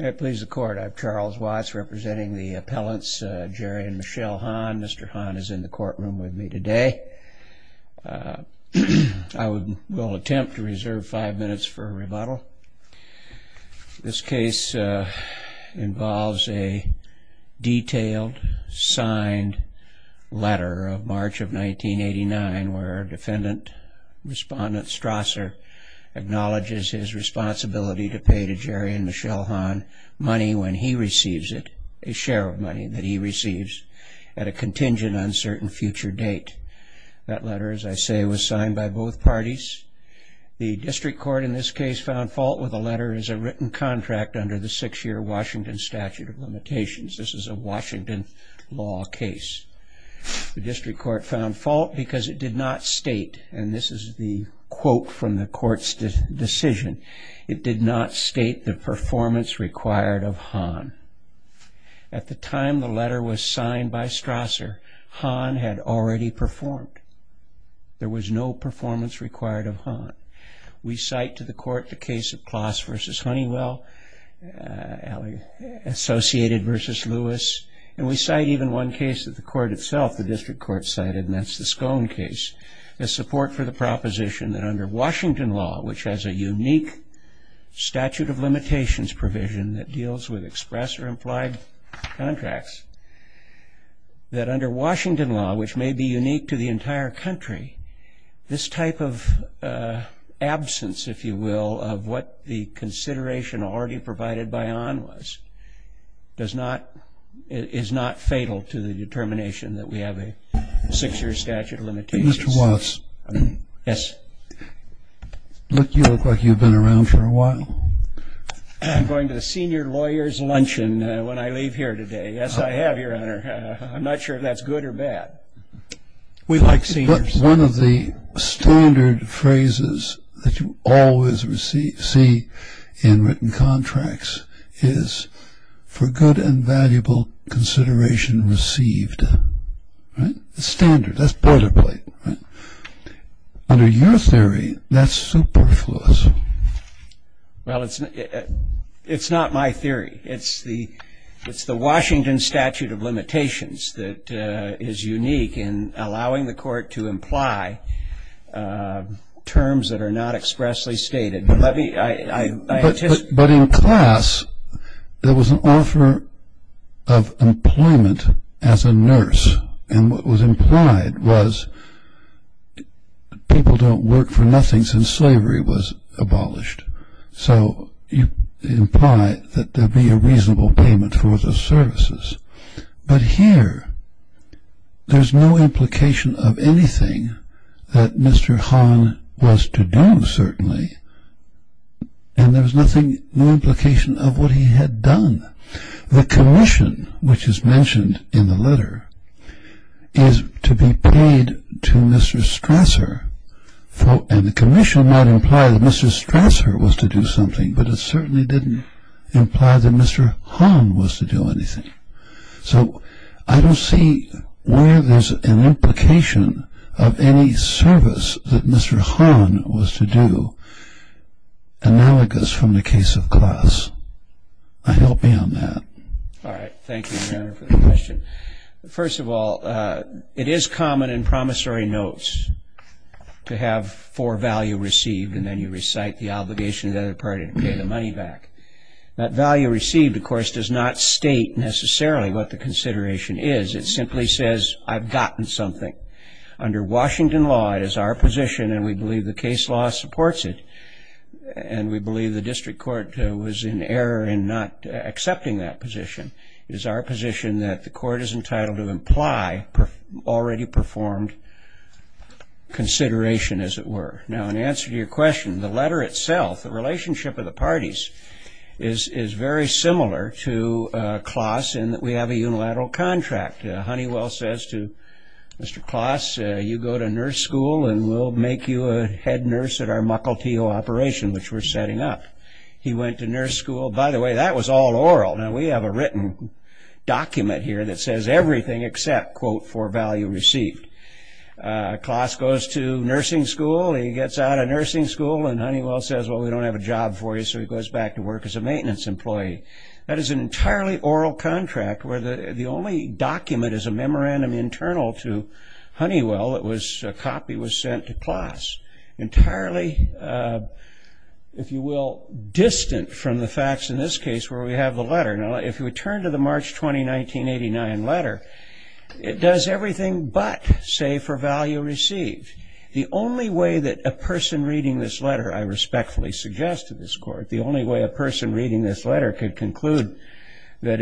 May it please the Court, I'm Charles Watts representing the appellants Jerry and Michelle Hahn. Mr. Hahn is in the courtroom with me today. I will attempt to reserve five minutes for a rebuttal. This case involves a detailed signed letter of March of 1989 where defendant respondent Strasser acknowledges his responsibility to pay to Jerry and Michelle Hahn money when he receives it, a share of money that he receives at a contingent uncertain future date. That letter, as I say, was signed by both parties. The district court in this case found fault with the letter as a written contract under the six-year Washington statute of limitations. This is a Washington law case. The district court found fault because it did not state, and this is the quote from the court's decision, it did not state the performance required of Hahn. At the time the letter was signed by Strasser, Hahn had already performed. There was no performance required of Hahn. We cite to the court the case of Closs v. Honeywell, Associated v. Lewis, and we cite even one case that the court itself, the district court cited, and that's the Scone case, as support for the proposition that under Washington law, which has a unique statute of limitations provision that deals with express or implied contracts, that under Washington law, which may be unique to the entire country, this type of absence, if you will, of what the consideration already provided by Hahn was, is not fatal to the determination that we have a six-year statute of limitations. Mr. Wallace, you look like you've been around for a while. I'm going to the senior lawyer's luncheon when I leave here today. Yes, I have, Your Honor. I'm not sure if that's good or bad. We like seniors. One of the standard phrases that you always see in written contracts is, for good and valuable consideration received. It's standard. That's boilerplate. Under your theory, that's superfluous. Well, it's not my theory. It's the Washington statute of limitations that is unique in allowing the court to imply terms that are not expressly stated. But in class, there was an offer of employment as a nurse. And what was implied was people don't work for nothing since slavery was abolished. So you imply that there be a reasonable payment for the services. But here, there's no implication of anything that Mr. Hahn was to do, certainly. And there's no implication of what he had done. The commission, which is mentioned in the letter, is to be paid to Mr. Strasser. And the commission might imply that Mr. Strasser was to do something, but it certainly didn't imply that Mr. Hahn was to do anything. So I don't see where there's an implication of any service that Mr. Hahn was to do, analogous from the case of class. Help me on that. All right. Thank you, Your Honor, for the question. First of all, it is common in promissory notes to have four value received, and then you recite the obligation to the other party to pay the money back. That value received, of course, does not state necessarily what the consideration is. It simply says, I've gotten something. Under Washington law, it is our position, and we believe the case law supports it, and we believe the district court was in error in not accepting that position. It is our position that the court is entitled to imply already performed consideration, as it were. Now, in answer to your question, the letter itself, the relationship of the parties, is very similar to Claas in that we have a unilateral contract. Honeywell says to Mr. Claas, you go to nurse school, and we'll make you a head nurse at our Mukilteo operation, which we're setting up. He went to nurse school. By the way, that was all oral. Now, we have a written document here that says everything except, quote, four value received. Claas goes to nursing school. He gets out of nursing school, and Honeywell says, well, we don't have a job for you, so he goes back to work as a maintenance employee. That is an entirely oral contract where the only document is a memorandum internal to Honeywell that was a copy was sent to Claas, entirely, if you will, distant from the facts in this case where we have the letter. Now, if you would turn to the March 20, 1989 letter, it does everything but say for value received. The only way that a person reading this letter, I respectfully suggest to this court, the only way a person reading this letter could conclude that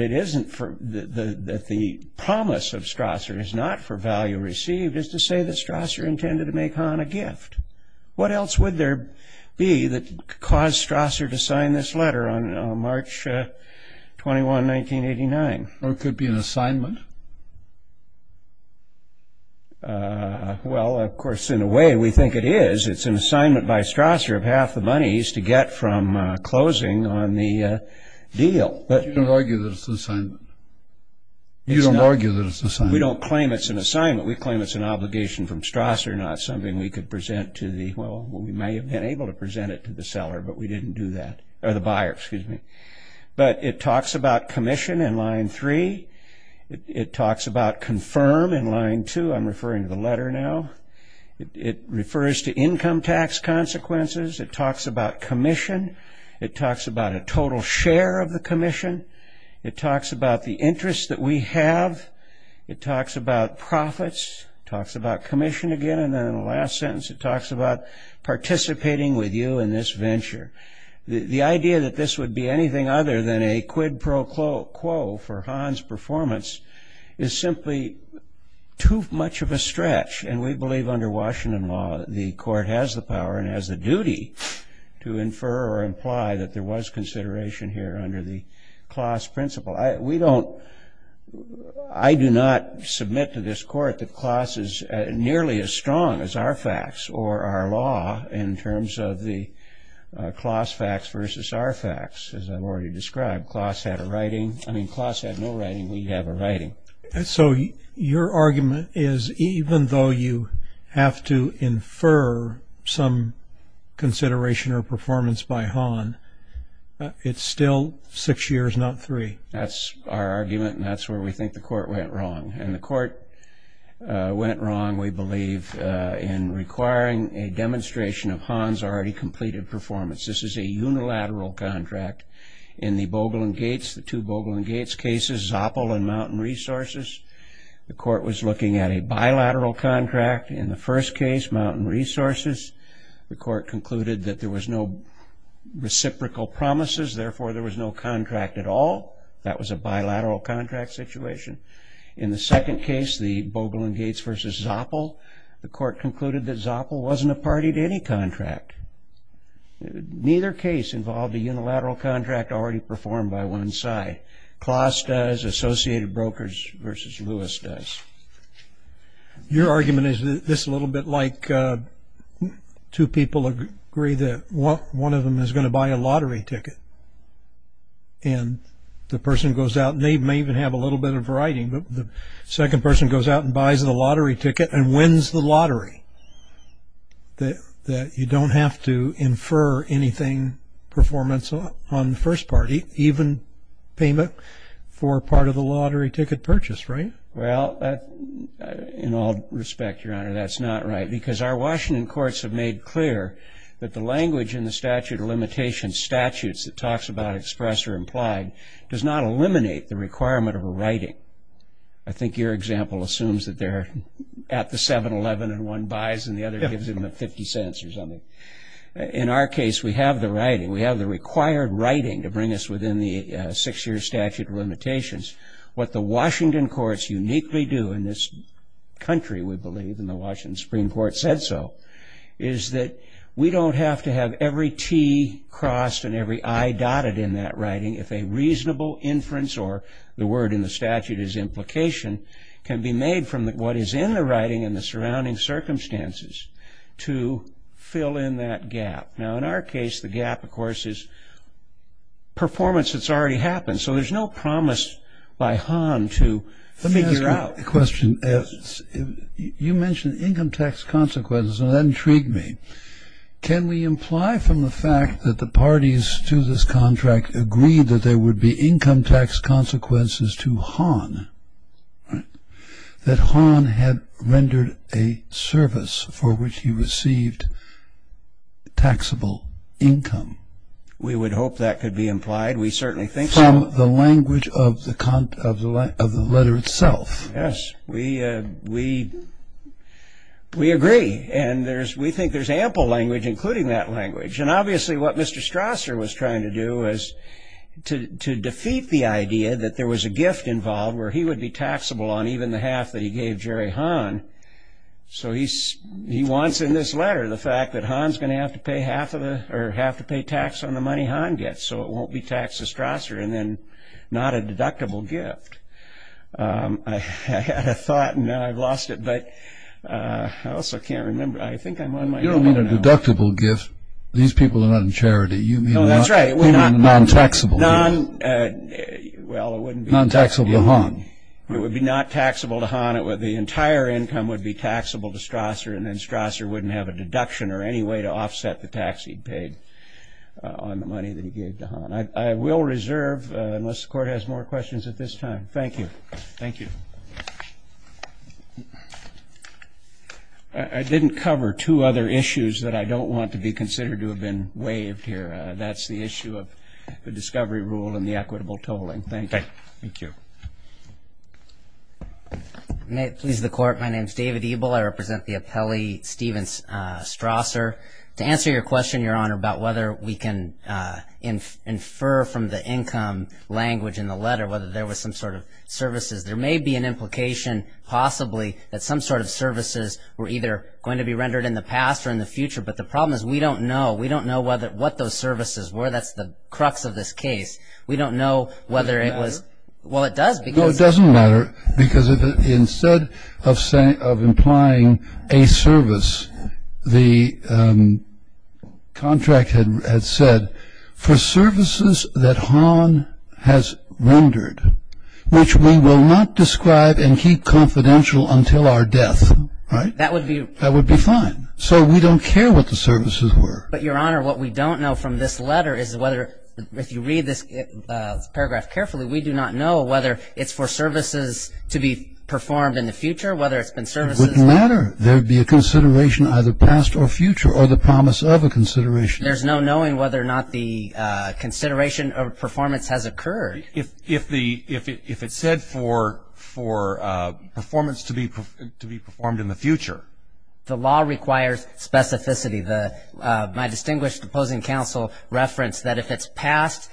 the promise of Strasser is not for value received is to say that Strasser intended to make Hahn a gift. What else would there be that caused Strasser to sign this letter on March 21, 1989? It could be an assignment. Well, of course, in a way, we think it is. It's an assignment by Strasser of half the monies to get from closing on the deal. But you don't argue that it's an assignment. You don't argue that it's an assignment. We don't claim it's an assignment. We claim it's an obligation from Strasser, not something we could present to the, well, we may have been able to present it to the seller, but we didn't do that, or the buyer, excuse me. But it talks about commission in line three. It talks about confirm in line two. I'm referring to the letter now. It refers to income tax consequences. It talks about commission. It talks about a total share of the commission. It talks about the interest that we have. It talks about profits. It talks about commission again. And then in the last sentence, it talks about participating with you in this venture. The idea that this would be anything other than a quid pro quo for Hahn's performance is simply too much of a stretch. And we believe under Washington law the court has the power and has the duty to infer or imply that there was consideration here under the Closs principle. I do not submit to this court that Closs is nearly as strong as our facts or our law in terms of the Closs facts versus our facts. As I've already described, Closs had a writing. I mean, Closs had no writing. We have a writing. So your argument is even though you have to infer some consideration or performance by Hahn, it's still six years, not three. That's our argument, and that's where we think the court went wrong. And the court went wrong, we believe, in requiring a demonstration of Hahn's already completed performance. This is a unilateral contract. In the Bogle and Gates, the two Bogle and Gates cases, Zoppel and Mountain Resources, the court was looking at a bilateral contract. In the first case, Mountain Resources, the court concluded that there was no reciprocal promises. Therefore, there was no contract at all. That was a bilateral contract situation. In the second case, the Bogle and Gates versus Zoppel, the court concluded that Zoppel wasn't a party to any contract. Neither case involved a unilateral contract already performed by one side. Closs does. Associated Brokers versus Lewis does. Your argument is this a little bit like two people agree that one of them is going to buy a lottery ticket. And the person goes out, and they may even have a little bit of writing, but the second person goes out and buys the lottery ticket and wins the lottery. You don't have to infer anything performance on the first party, even payment for part of the lottery ticket purchase, right? Well, in all respect, Your Honor, that's not right, because our Washington courts have made clear that the language in the statute of limitations, statutes that talks about express or implied, does not eliminate the requirement of a writing. I think your example assumes that they're at the 7-Eleven and one buys and the other gives him a 50 cents or something. In our case, we have the writing. We have the required writing to bring us within the six-year statute of limitations. What the Washington courts uniquely do in this country, we believe, and the Washington Supreme Court said so, is that we don't have to have every T crossed and every I dotted in that writing if a reasonable inference or the word in the statute is implication, can be made from what is in the writing and the surrounding circumstances to fill in that gap. Now, in our case, the gap, of course, is performance that's already happened. So there's no promise by Hahn to figure out. Let me ask you a question. You mentioned income tax consequences, and that intrigued me. Can we imply from the fact that the parties to this contract agreed that there would be income tax consequences to Hahn, that Hahn had rendered a service for which he received taxable income? We would hope that could be implied. We certainly think so. From the language of the letter itself. Yes, we agree. And we think there's ample language, including that language. And obviously what Mr. Strasser was trying to do was to defeat the idea that there was a gift involved where he would be taxable on even the half that he gave Jerry Hahn. So he wants in this letter the fact that Hahn's going to have to pay half of the or have to pay tax on the money Hahn gets. So it won't be taxed to Strasser, and then not a deductible gift. I had a thought, and now I've lost it, but I also can't remember. I think I'm on my own right now. You don't mean a deductible gift. These people are not in charity. No, that's right. You mean non-taxable. Well, it wouldn't be taxable. Non-taxable to Hahn. It would be not taxable to Hahn. The entire income would be taxable to Strasser, and then Strasser wouldn't have a deduction or any way to offset the tax he paid on the money that he gave to Hahn. I will reserve, unless the Court has more questions at this time. Thank you. Thank you. I didn't cover two other issues that I don't want to be considered to have been waived here. That's the issue of the discovery rule and the equitable tolling. Thank you. Thank you. May it please the Court. My name is David Ebel. I represent the appellee, Steven Strasser. To answer your question, Your Honor, about whether we can infer from the income language in the letter whether there was some sort of services, there may be an implication possibly that some sort of services were either going to be rendered in the past or in the future, but the problem is we don't know. We don't know what those services were. That's the crux of this case. We don't know whether it was. Does it matter? Well, it does. No, it doesn't matter because instead of implying a service, the contract had said for services that Hahn has rendered, which we will not describe and keep confidential until our death, right? That would be. That would be fine. So we don't care what the services were. But, Your Honor, what we don't know from this letter is whether, if you read this paragraph carefully, we do not know whether it's for services to be performed in the future, whether it's been services. It wouldn't matter. There would be a consideration either past or future or the promise of a consideration. There's no knowing whether or not the consideration of performance has occurred. If it said for performance to be performed in the future. The law requires specificity. My distinguished opposing counsel referenced that if it's past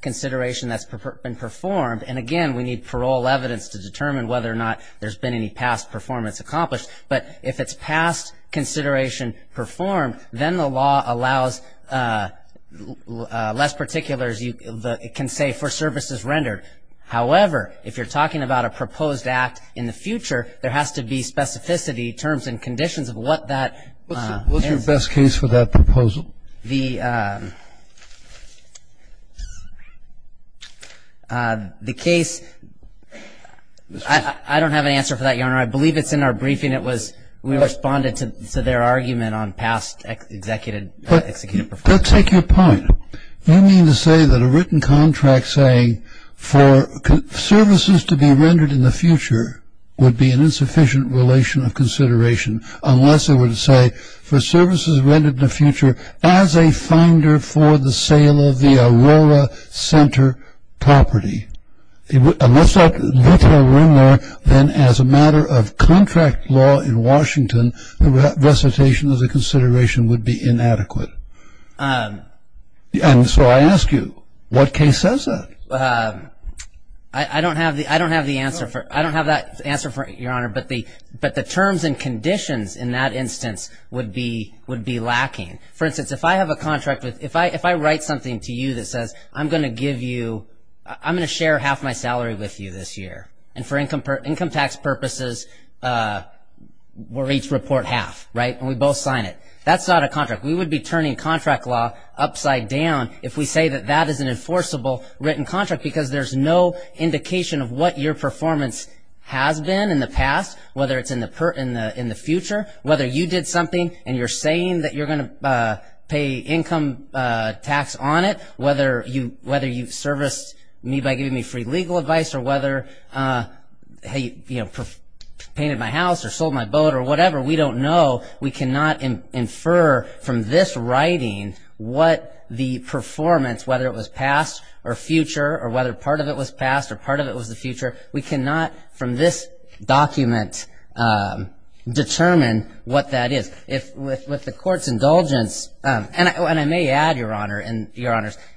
consideration that's been performed, and, again, we need parole evidence to determine whether or not there's been any past performance accomplished. But if it's past consideration performed, then the law allows less particulars. It can say for services rendered. However, if you're talking about a proposed act in the future, there has to be specificity terms and conditions of what that is. What's your best case for that proposal? The case, I don't have an answer for that, Your Honor. I believe it's in our briefing. We responded to their argument on past executive performance. Let's take your point. You mean to say that a written contract saying for services to be rendered in the future would be an insufficient relation of consideration unless it were to say for services rendered in the future as a finder for the sale of the Aurora Center property. Unless that little rumor then as a matter of contract law in Washington, the recitation as a consideration would be inadequate. And so I ask you, what case says that? I don't have the answer for it, Your Honor. But the terms and conditions in that instance would be lacking. For instance, if I have a contract, if I write something to you that says I'm going to give you, I'm going to share half my salary with you this year, and for income tax purposes, we'll each report half, right? And we both sign it. That's not a contract. We would be turning contract law upside down if we say that that is an enforceable written contract because there's no indication of what your performance has been in the past, whether it's in the future, whether you did something and you're saying that you're going to pay income tax on it, whether you serviced me by giving me free legal advice or whether you painted my house or sold my boat or whatever. We don't know. We cannot infer from this writing what the performance, whether it was past or future or whether part of it was past or part of it was the future, we cannot from this document determine what that is. With the Court's indulgence, and I may add, Your Honor,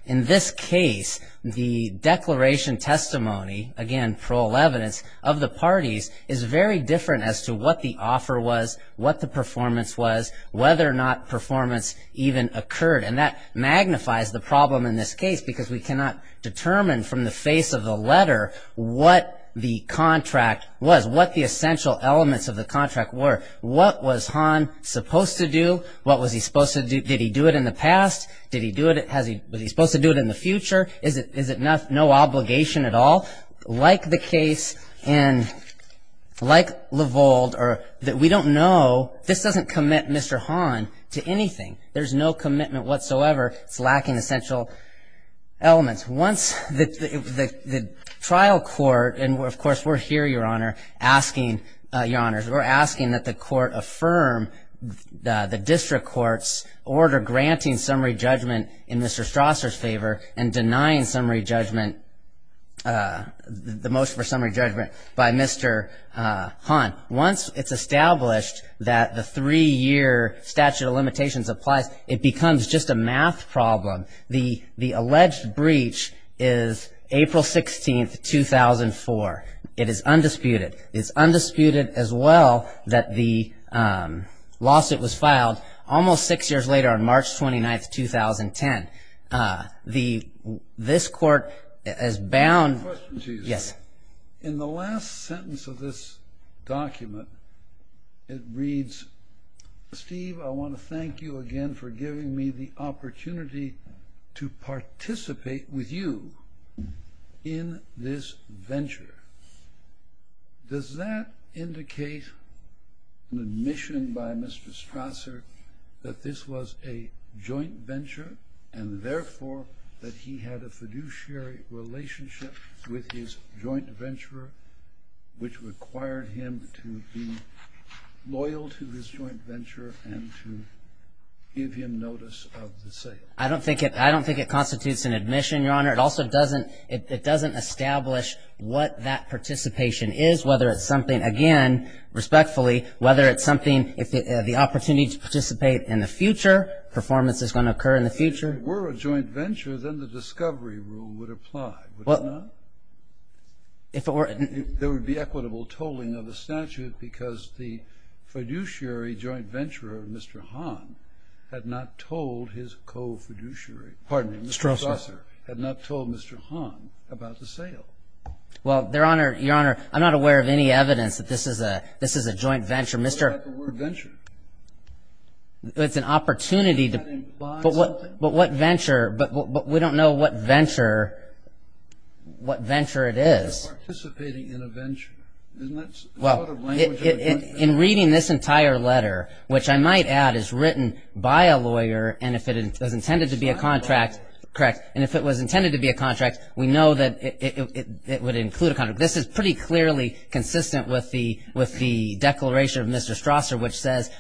in this case the declaration testimony, again, parole evidence of the parties, is very different as to what the offer was, what the performance was, whether or not performance even occurred. And that magnifies the problem in this case because we cannot determine from the face of the letter what the contract was, what the essential elements of the contract were. What was Hahn supposed to do? What was he supposed to do? Did he do it in the past? Did he do it? Was he supposed to do it in the future? Is it no obligation at all? Like the case in, like Lavold, we don't know. This doesn't commit Mr. Hahn to anything. There's no commitment whatsoever. It's lacking essential elements. Once the trial court, and of course we're here, Your Honor, asking, Your Honors, we're asking that the court affirm the district court's order granting summary judgment in Mr. Strasser's favor and denying summary judgment, the motion for summary judgment by Mr. Hahn. Once it's established that the three-year statute of limitations applies, it becomes just a math problem. The alleged breach is April 16, 2004. It is undisputed. It is undisputed as well that the lawsuit was filed almost six years later on March 29, 2010. This court is bound. Question to you. Yes. In the last sentence of this document, it reads, Steve, I want to thank you again for giving me the opportunity to participate with you in this venture. Does that indicate an admission by Mr. Strasser that this was a joint venture and therefore that he had a fiduciary relationship with his joint venturer which required him to be loyal to his joint venture and to give him notice of the sale? I don't think it constitutes an admission, Your Honor. It also doesn't establish what that participation is, whether it's something, again, respectfully, whether it's something, the opportunity to participate in the future, performance that's going to occur in the future. If it were a joint venture, then the discovery rule would apply, would it not? If it were. There would be equitable tolling of the statute because the fiduciary joint venturer, Mr. Hahn, had not told his co-fiduciary, pardon me, Mr. Strasser, had not told Mr. Hahn about the sale. Well, Your Honor, I'm not aware of any evidence that this is a joint venture. What about the word venture? It's an opportunity to. Does that imply something? But what venture, but we don't know what venture, what venture it is. Participating in a venture. Well, in reading this entire letter, which I might add is written by a lawyer and if it was intended to be a contract, correct, and if it was intended to be a contract, we know that it would include a contract. This is pretty clearly consistent with the declaration of Mr. Strasser which says,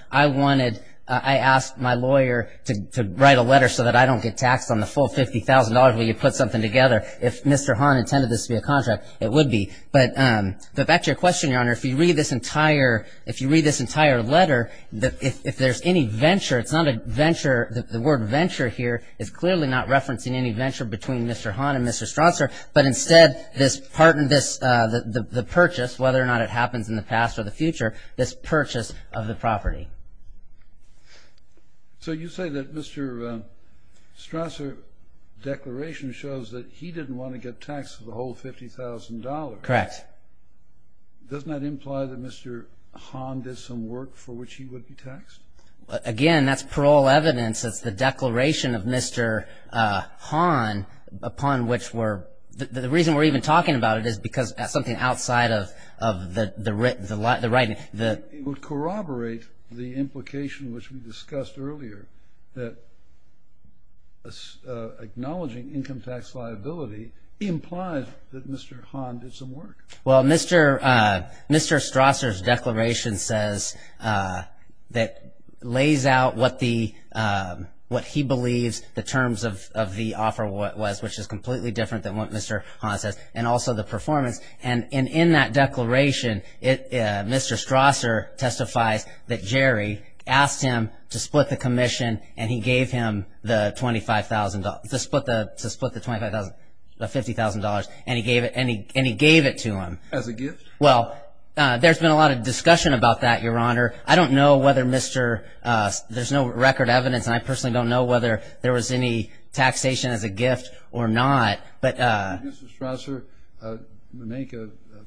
I asked my lawyer to write a letter so that I don't get taxed on the full $50,000 when you put something together. If Mr. Hahn intended this to be a contract, it would be. But back to your question, Your Honor. If you read this entire letter, if there's any venture, it's not a venture, the word venture here is clearly not referencing any venture between Mr. Hahn and Mr. Strasser, but instead the purchase, whether or not it happens in the past or the future, this purchase of the property. So you say that Mr. Strasser's declaration shows that he didn't want to get taxed for the whole $50,000. Correct. Doesn't that imply that Mr. Hahn did some work for which he would be taxed? Again, that's parole evidence. It's the declaration of Mr. Hahn upon which we're, the reason we're even talking about it is because that's something outside of the writing. It would corroborate the implication which we discussed earlier that acknowledging income tax liability implies that Mr. Hahn did some work. Well, Mr. Strasser's declaration says, that lays out what he believes the terms of the offer was, which is completely different than what Mr. Hahn says, and also the performance. And in that declaration, Mr. Strasser testifies that Jerry asked him to split the commission and he gave him the $50,000 and he gave it to him. As a gift? Well, there's been a lot of discussion about that, Your Honor. I don't know whether Mr., there's no record evidence, and I personally don't know whether there was any taxation as a gift or not. Did Mr. Strasser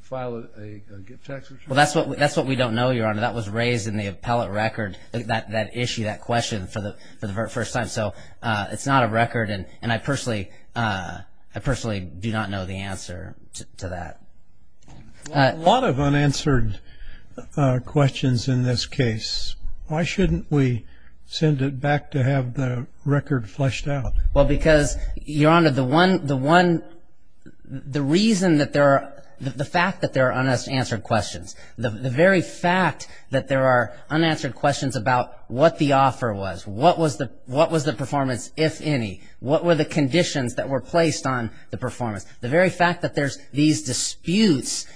file a gift tax return? Well, that's what we don't know, Your Honor. That was raised in the appellate record, that issue, that question, for the first time. So it's not a record, and I personally do not know the answer to that. A lot of unanswered questions in this case. Why shouldn't we send it back to have the record fleshed out? Well, because, Your Honor, the one, the reason that there are, the fact that there are unanswered questions, the very fact that there are unanswered questions about what the offer was, what was the performance, if any, what were the conditions that were placed on the performance, the very fact that there's these disputes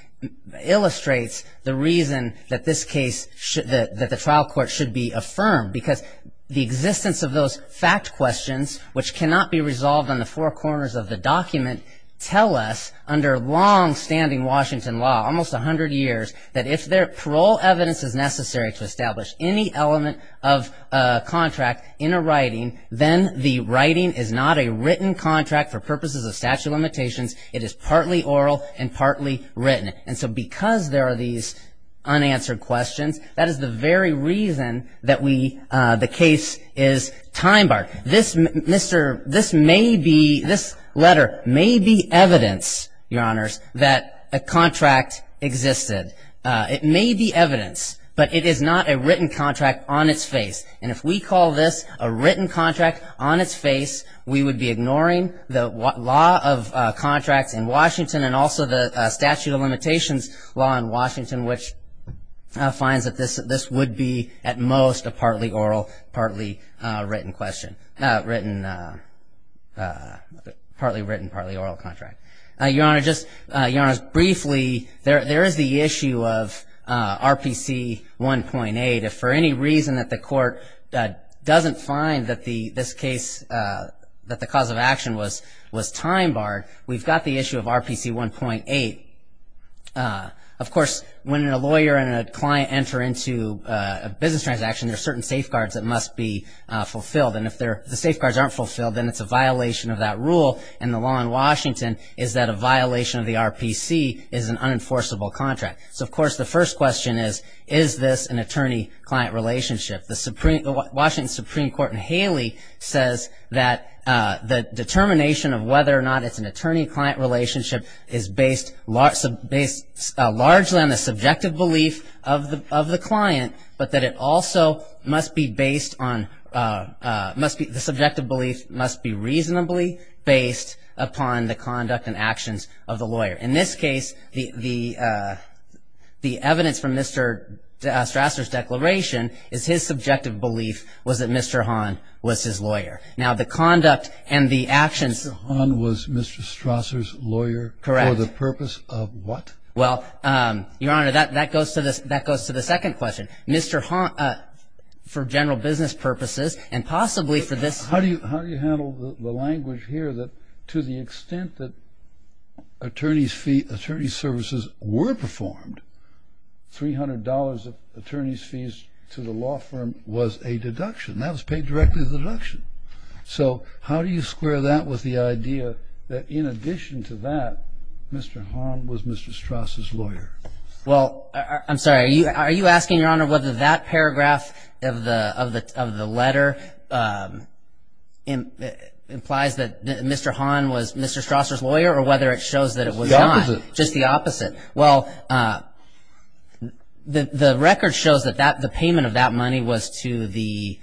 illustrates the reason that this case, that the trial court should be affirmed, because the existence of those fact questions, which cannot be resolved on the four corners of the document, tell us, under longstanding Washington law, almost 100 years, that if parole evidence is necessary to establish any element of a contract in a writing, then the writing is not a written contract for purposes of statute of limitations. It is partly oral and partly written. And so because there are these unanswered questions, that is the very reason that we, the case is time-barred. This may be, this letter may be evidence, Your Honors, that a contract existed. It may be evidence, but it is not a written contract on its face. And if we call this a written contract on its face, we would be ignoring the law of contracts in Washington and also the statute of limitations law in Washington, which finds that this would be at most a partly oral, partly written question, written, partly written, partly oral contract. Your Honor, just briefly, there is the issue of RPC 1.8. If for any reason that the court doesn't find that this case, that the cause of action was time-barred, we've got the issue of RPC 1.8. Of course, when a lawyer and a client enter into a business transaction, there are certain safeguards that must be fulfilled. And if the safeguards aren't fulfilled, then it's a violation of that rule, and the law in Washington is that a violation of the RPC is an unenforceable contract. So, of course, the first question is, is this an attorney-client relationship? The Washington Supreme Court in Haley says that the determination of whether or not it's an attorney-client relationship is based largely on the subjective belief of the client, but that the subjective belief must be reasonably based upon the conduct and actions of the lawyer. In this case, the evidence from Mr. Strasser's declaration is his subjective belief was that Mr. Hahn was his lawyer. Now, the conduct and the actions of the lawyer. Mr. Hahn was Mr. Strasser's lawyer? Correct. For the purpose of what? Well, Your Honor, that goes to the second question. Mr. Hahn, for general business purposes and possibly for this. How do you handle the language here that to the extent that attorney services were performed, $300 of attorney's fees to the law firm was a deduction? That was paid directly as a deduction. So how do you square that with the idea that in addition to that, Mr. Hahn was Mr. Strasser's lawyer? Well, I'm sorry. Are you asking, Your Honor, whether that paragraph of the letter implies that Mr. Hahn was Mr. Strasser's lawyer or whether it shows that it was not? The opposite. Just the opposite. Well, the record shows that the payment of that money was to the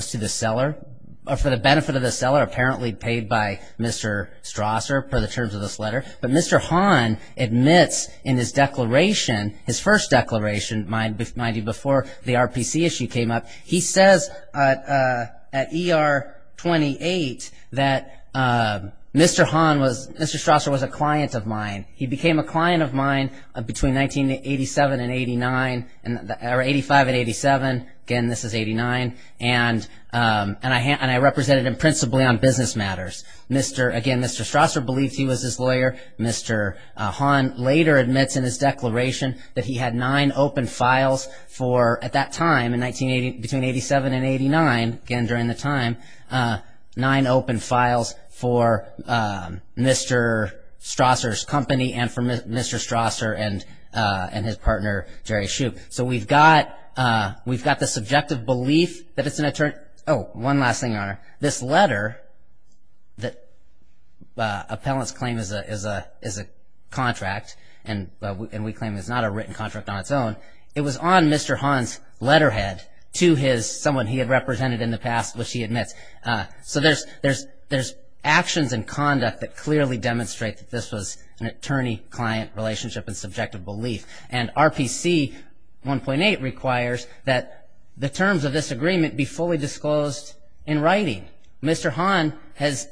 seller, or for the benefit of the seller apparently paid by Mr. Strasser per the terms of this letter. But Mr. Hahn admits in his declaration, his first declaration, mind you, before the RPC issue came up, he says at ER 28 that Mr. Strasser was a client of mine. He became a client of mine between 1985 and 1987. Again, this is 1989. And I represented him principally on business matters. Again, Mr. Strasser believed he was his lawyer. Mr. Hahn later admits in his declaration that he had nine open files for, at that time, between 1987 and 1989, again during the time, nine open files for Mr. Strasser's company and for Mr. Strasser and his partner, Jerry Shoup. So we've got the subjective belief that it's an attorney. Oh, one last thing, Your Honor. This letter that appellants claim is a contract and we claim is not a written contract on its own, it was on Mr. Hahn's letterhead to someone he had represented in the past, which he admits. So there's actions and conduct that clearly demonstrate that this was an attorney-client relationship and subjective belief. And RPC 1.8 requires that the terms of this agreement be fully disclosed in writing. Mr. Hahn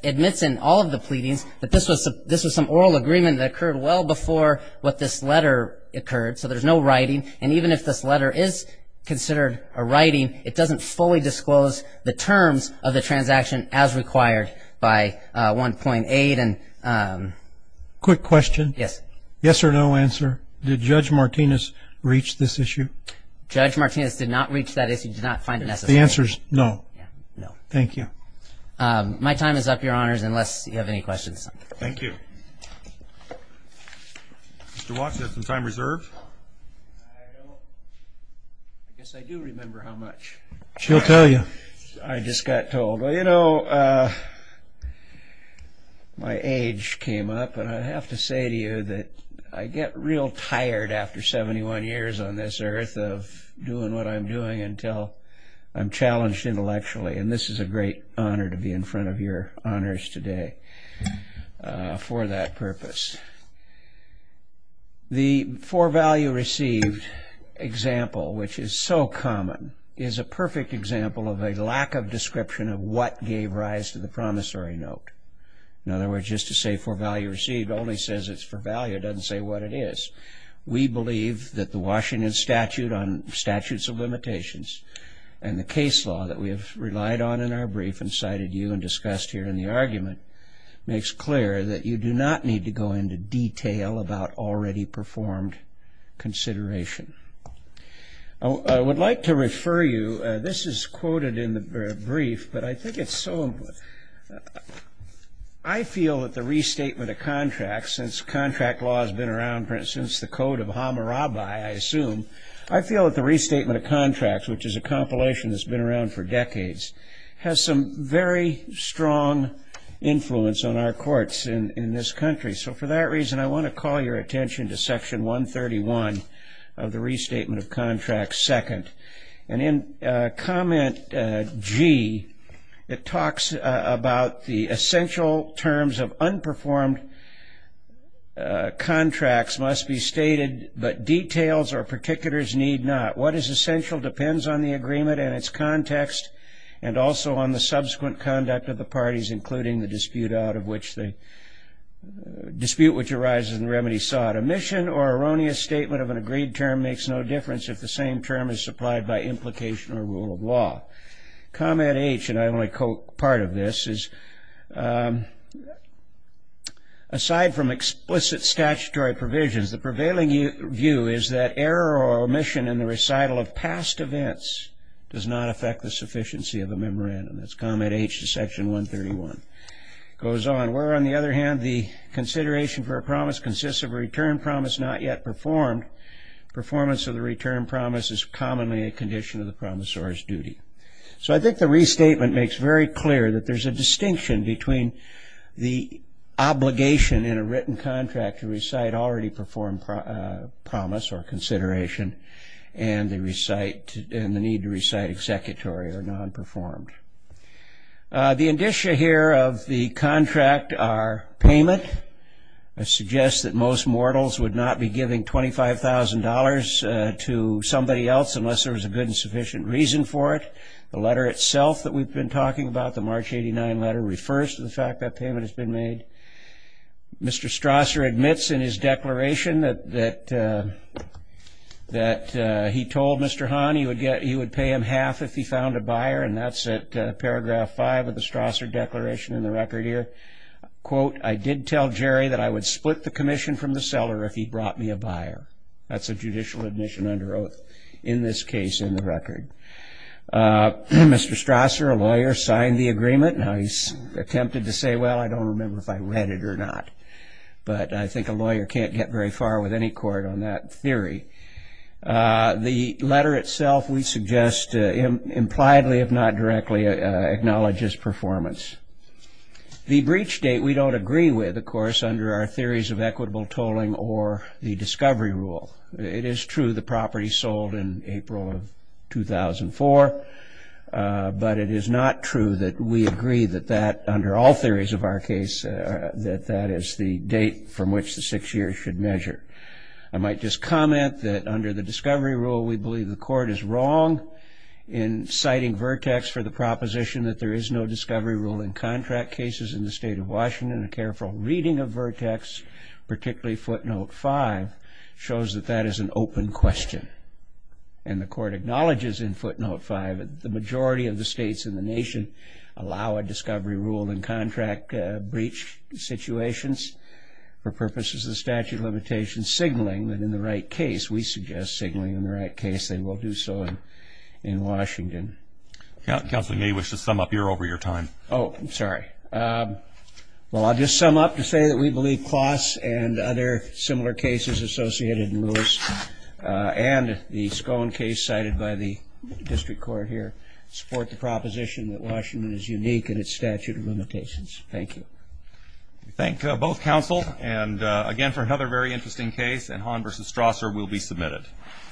admits in all of the pleadings that this was some oral agreement that occurred well before what this letter occurred. So there's no writing. And even if this letter is considered a writing, it doesn't fully disclose the terms of the transaction as required by 1.8. Quick question. Yes. Yes or no answer. Did Judge Martinez reach this issue? Judge Martinez did not reach that issue, did not find it necessary. The answer is no. No. Thank you. My time is up, Your Honors, unless you have any questions. Thank you. Mr. Watson, you have some time reserved? I don't. I guess I do remember how much. She'll tell you. I just got told. Well, you know, my age came up. And I have to say to you that I get real tired after 71 years on this earth of doing what I'm doing until I'm challenged intellectually. And this is a great honor to be in front of your honors today for that purpose. The for value received example, which is so common, is a perfect example of a lack of description of what gave rise to the promissory note. In other words, just to say for value received only says it's for value. It doesn't say what it is. We believe that the Washington Statute on Statutes of Limitations and the case law that we have relied on in our brief and cited you and discussed here in the argument makes clear that you do not need to go into detail about already performed consideration. I would like to refer you. This is quoted in the brief, but I think it's so important. I feel that the restatement of contracts, since contract law has been around since the Code of Hammurabi, I assume, I feel that the restatement of contracts, which is a compilation that's been around for decades, has some very strong influence on our courts in this country. So for that reason, I want to call your attention to Section 131 of the Restatement of Contracts, Second. And in Comment G, it talks about the essential terms of unperformed contracts must be stated, but details or particulars need not. What is essential depends on the agreement and its context and also on the subsequent conduct of the parties, including the dispute which arises in the remedy sought. Omission or erroneous statement of an agreed term makes no difference if the same term is supplied by implication or rule of law. Comment H, and I only quote part of this, is, aside from explicit statutory provisions, the prevailing view is that error or omission in the recital of past events does not affect the sufficiency of a memorandum. That's Comment H to Section 131. It goes on, where, on the other hand, the consideration for a promise consists of a return promise not yet performed. Performance of the return promise is commonly a condition of the promissor's duty. So I think the restatement makes very clear that there's a distinction between the obligation in a written contract to recite already performed promise or consideration and the need to recite executory or non-performed. The indicia here of the contract are payment. I suggest that most mortals would not be giving $25,000 to somebody else unless there was a good and sufficient reason for it. The letter itself that we've been talking about, the March 89 letter, refers to the fact that payment has been made. Mr. Strasser admits in his declaration that he told Mr. Hahn he would pay him half if he found a buyer, and that's at Paragraph 5 of the Strasser Declaration in the record here. Quote, I did tell Jerry that I would split the commission from the seller if he brought me a buyer. That's a judicial admission under oath in this case in the record. Mr. Strasser, a lawyer, signed the agreement. Now, he's attempted to say, well, I don't remember if I read it or not, but I think a lawyer can't get very far with any court on that theory. The letter itself, we suggest, impliedly, if not directly, acknowledges performance. The breach date we don't agree with, of course, under our theories of equitable tolling or the discovery rule. It is true the property sold in April of 2004, but it is not true that we agree that that, under all theories of our case, that that is the date from which the six years should measure. I might just comment that under the discovery rule, we believe the court is wrong in citing Vertex for the proposition that there is no discovery rule in contract cases in the state of Washington. A careful reading of Vertex, particularly footnote 5, shows that that is an open question, and the court acknowledges in footnote 5 that the majority of the states in the nation allow a discovery rule in contract breach situations for purposes of statute limitation signaling that in the right case, we suggest signaling in the right case, they will do so in Washington. Counsel, you may wish to sum up here over your time. Oh, I'm sorry. Well, I'll just sum up to say that we believe Kloss and other similar cases associated in Lewis and the Scone case cited by the district court here support the proposition that Washington is unique in its statute of limitations. Thank you. We thank both counsel, and again, for another very interesting case, and Hahn v. Strasser will be submitted.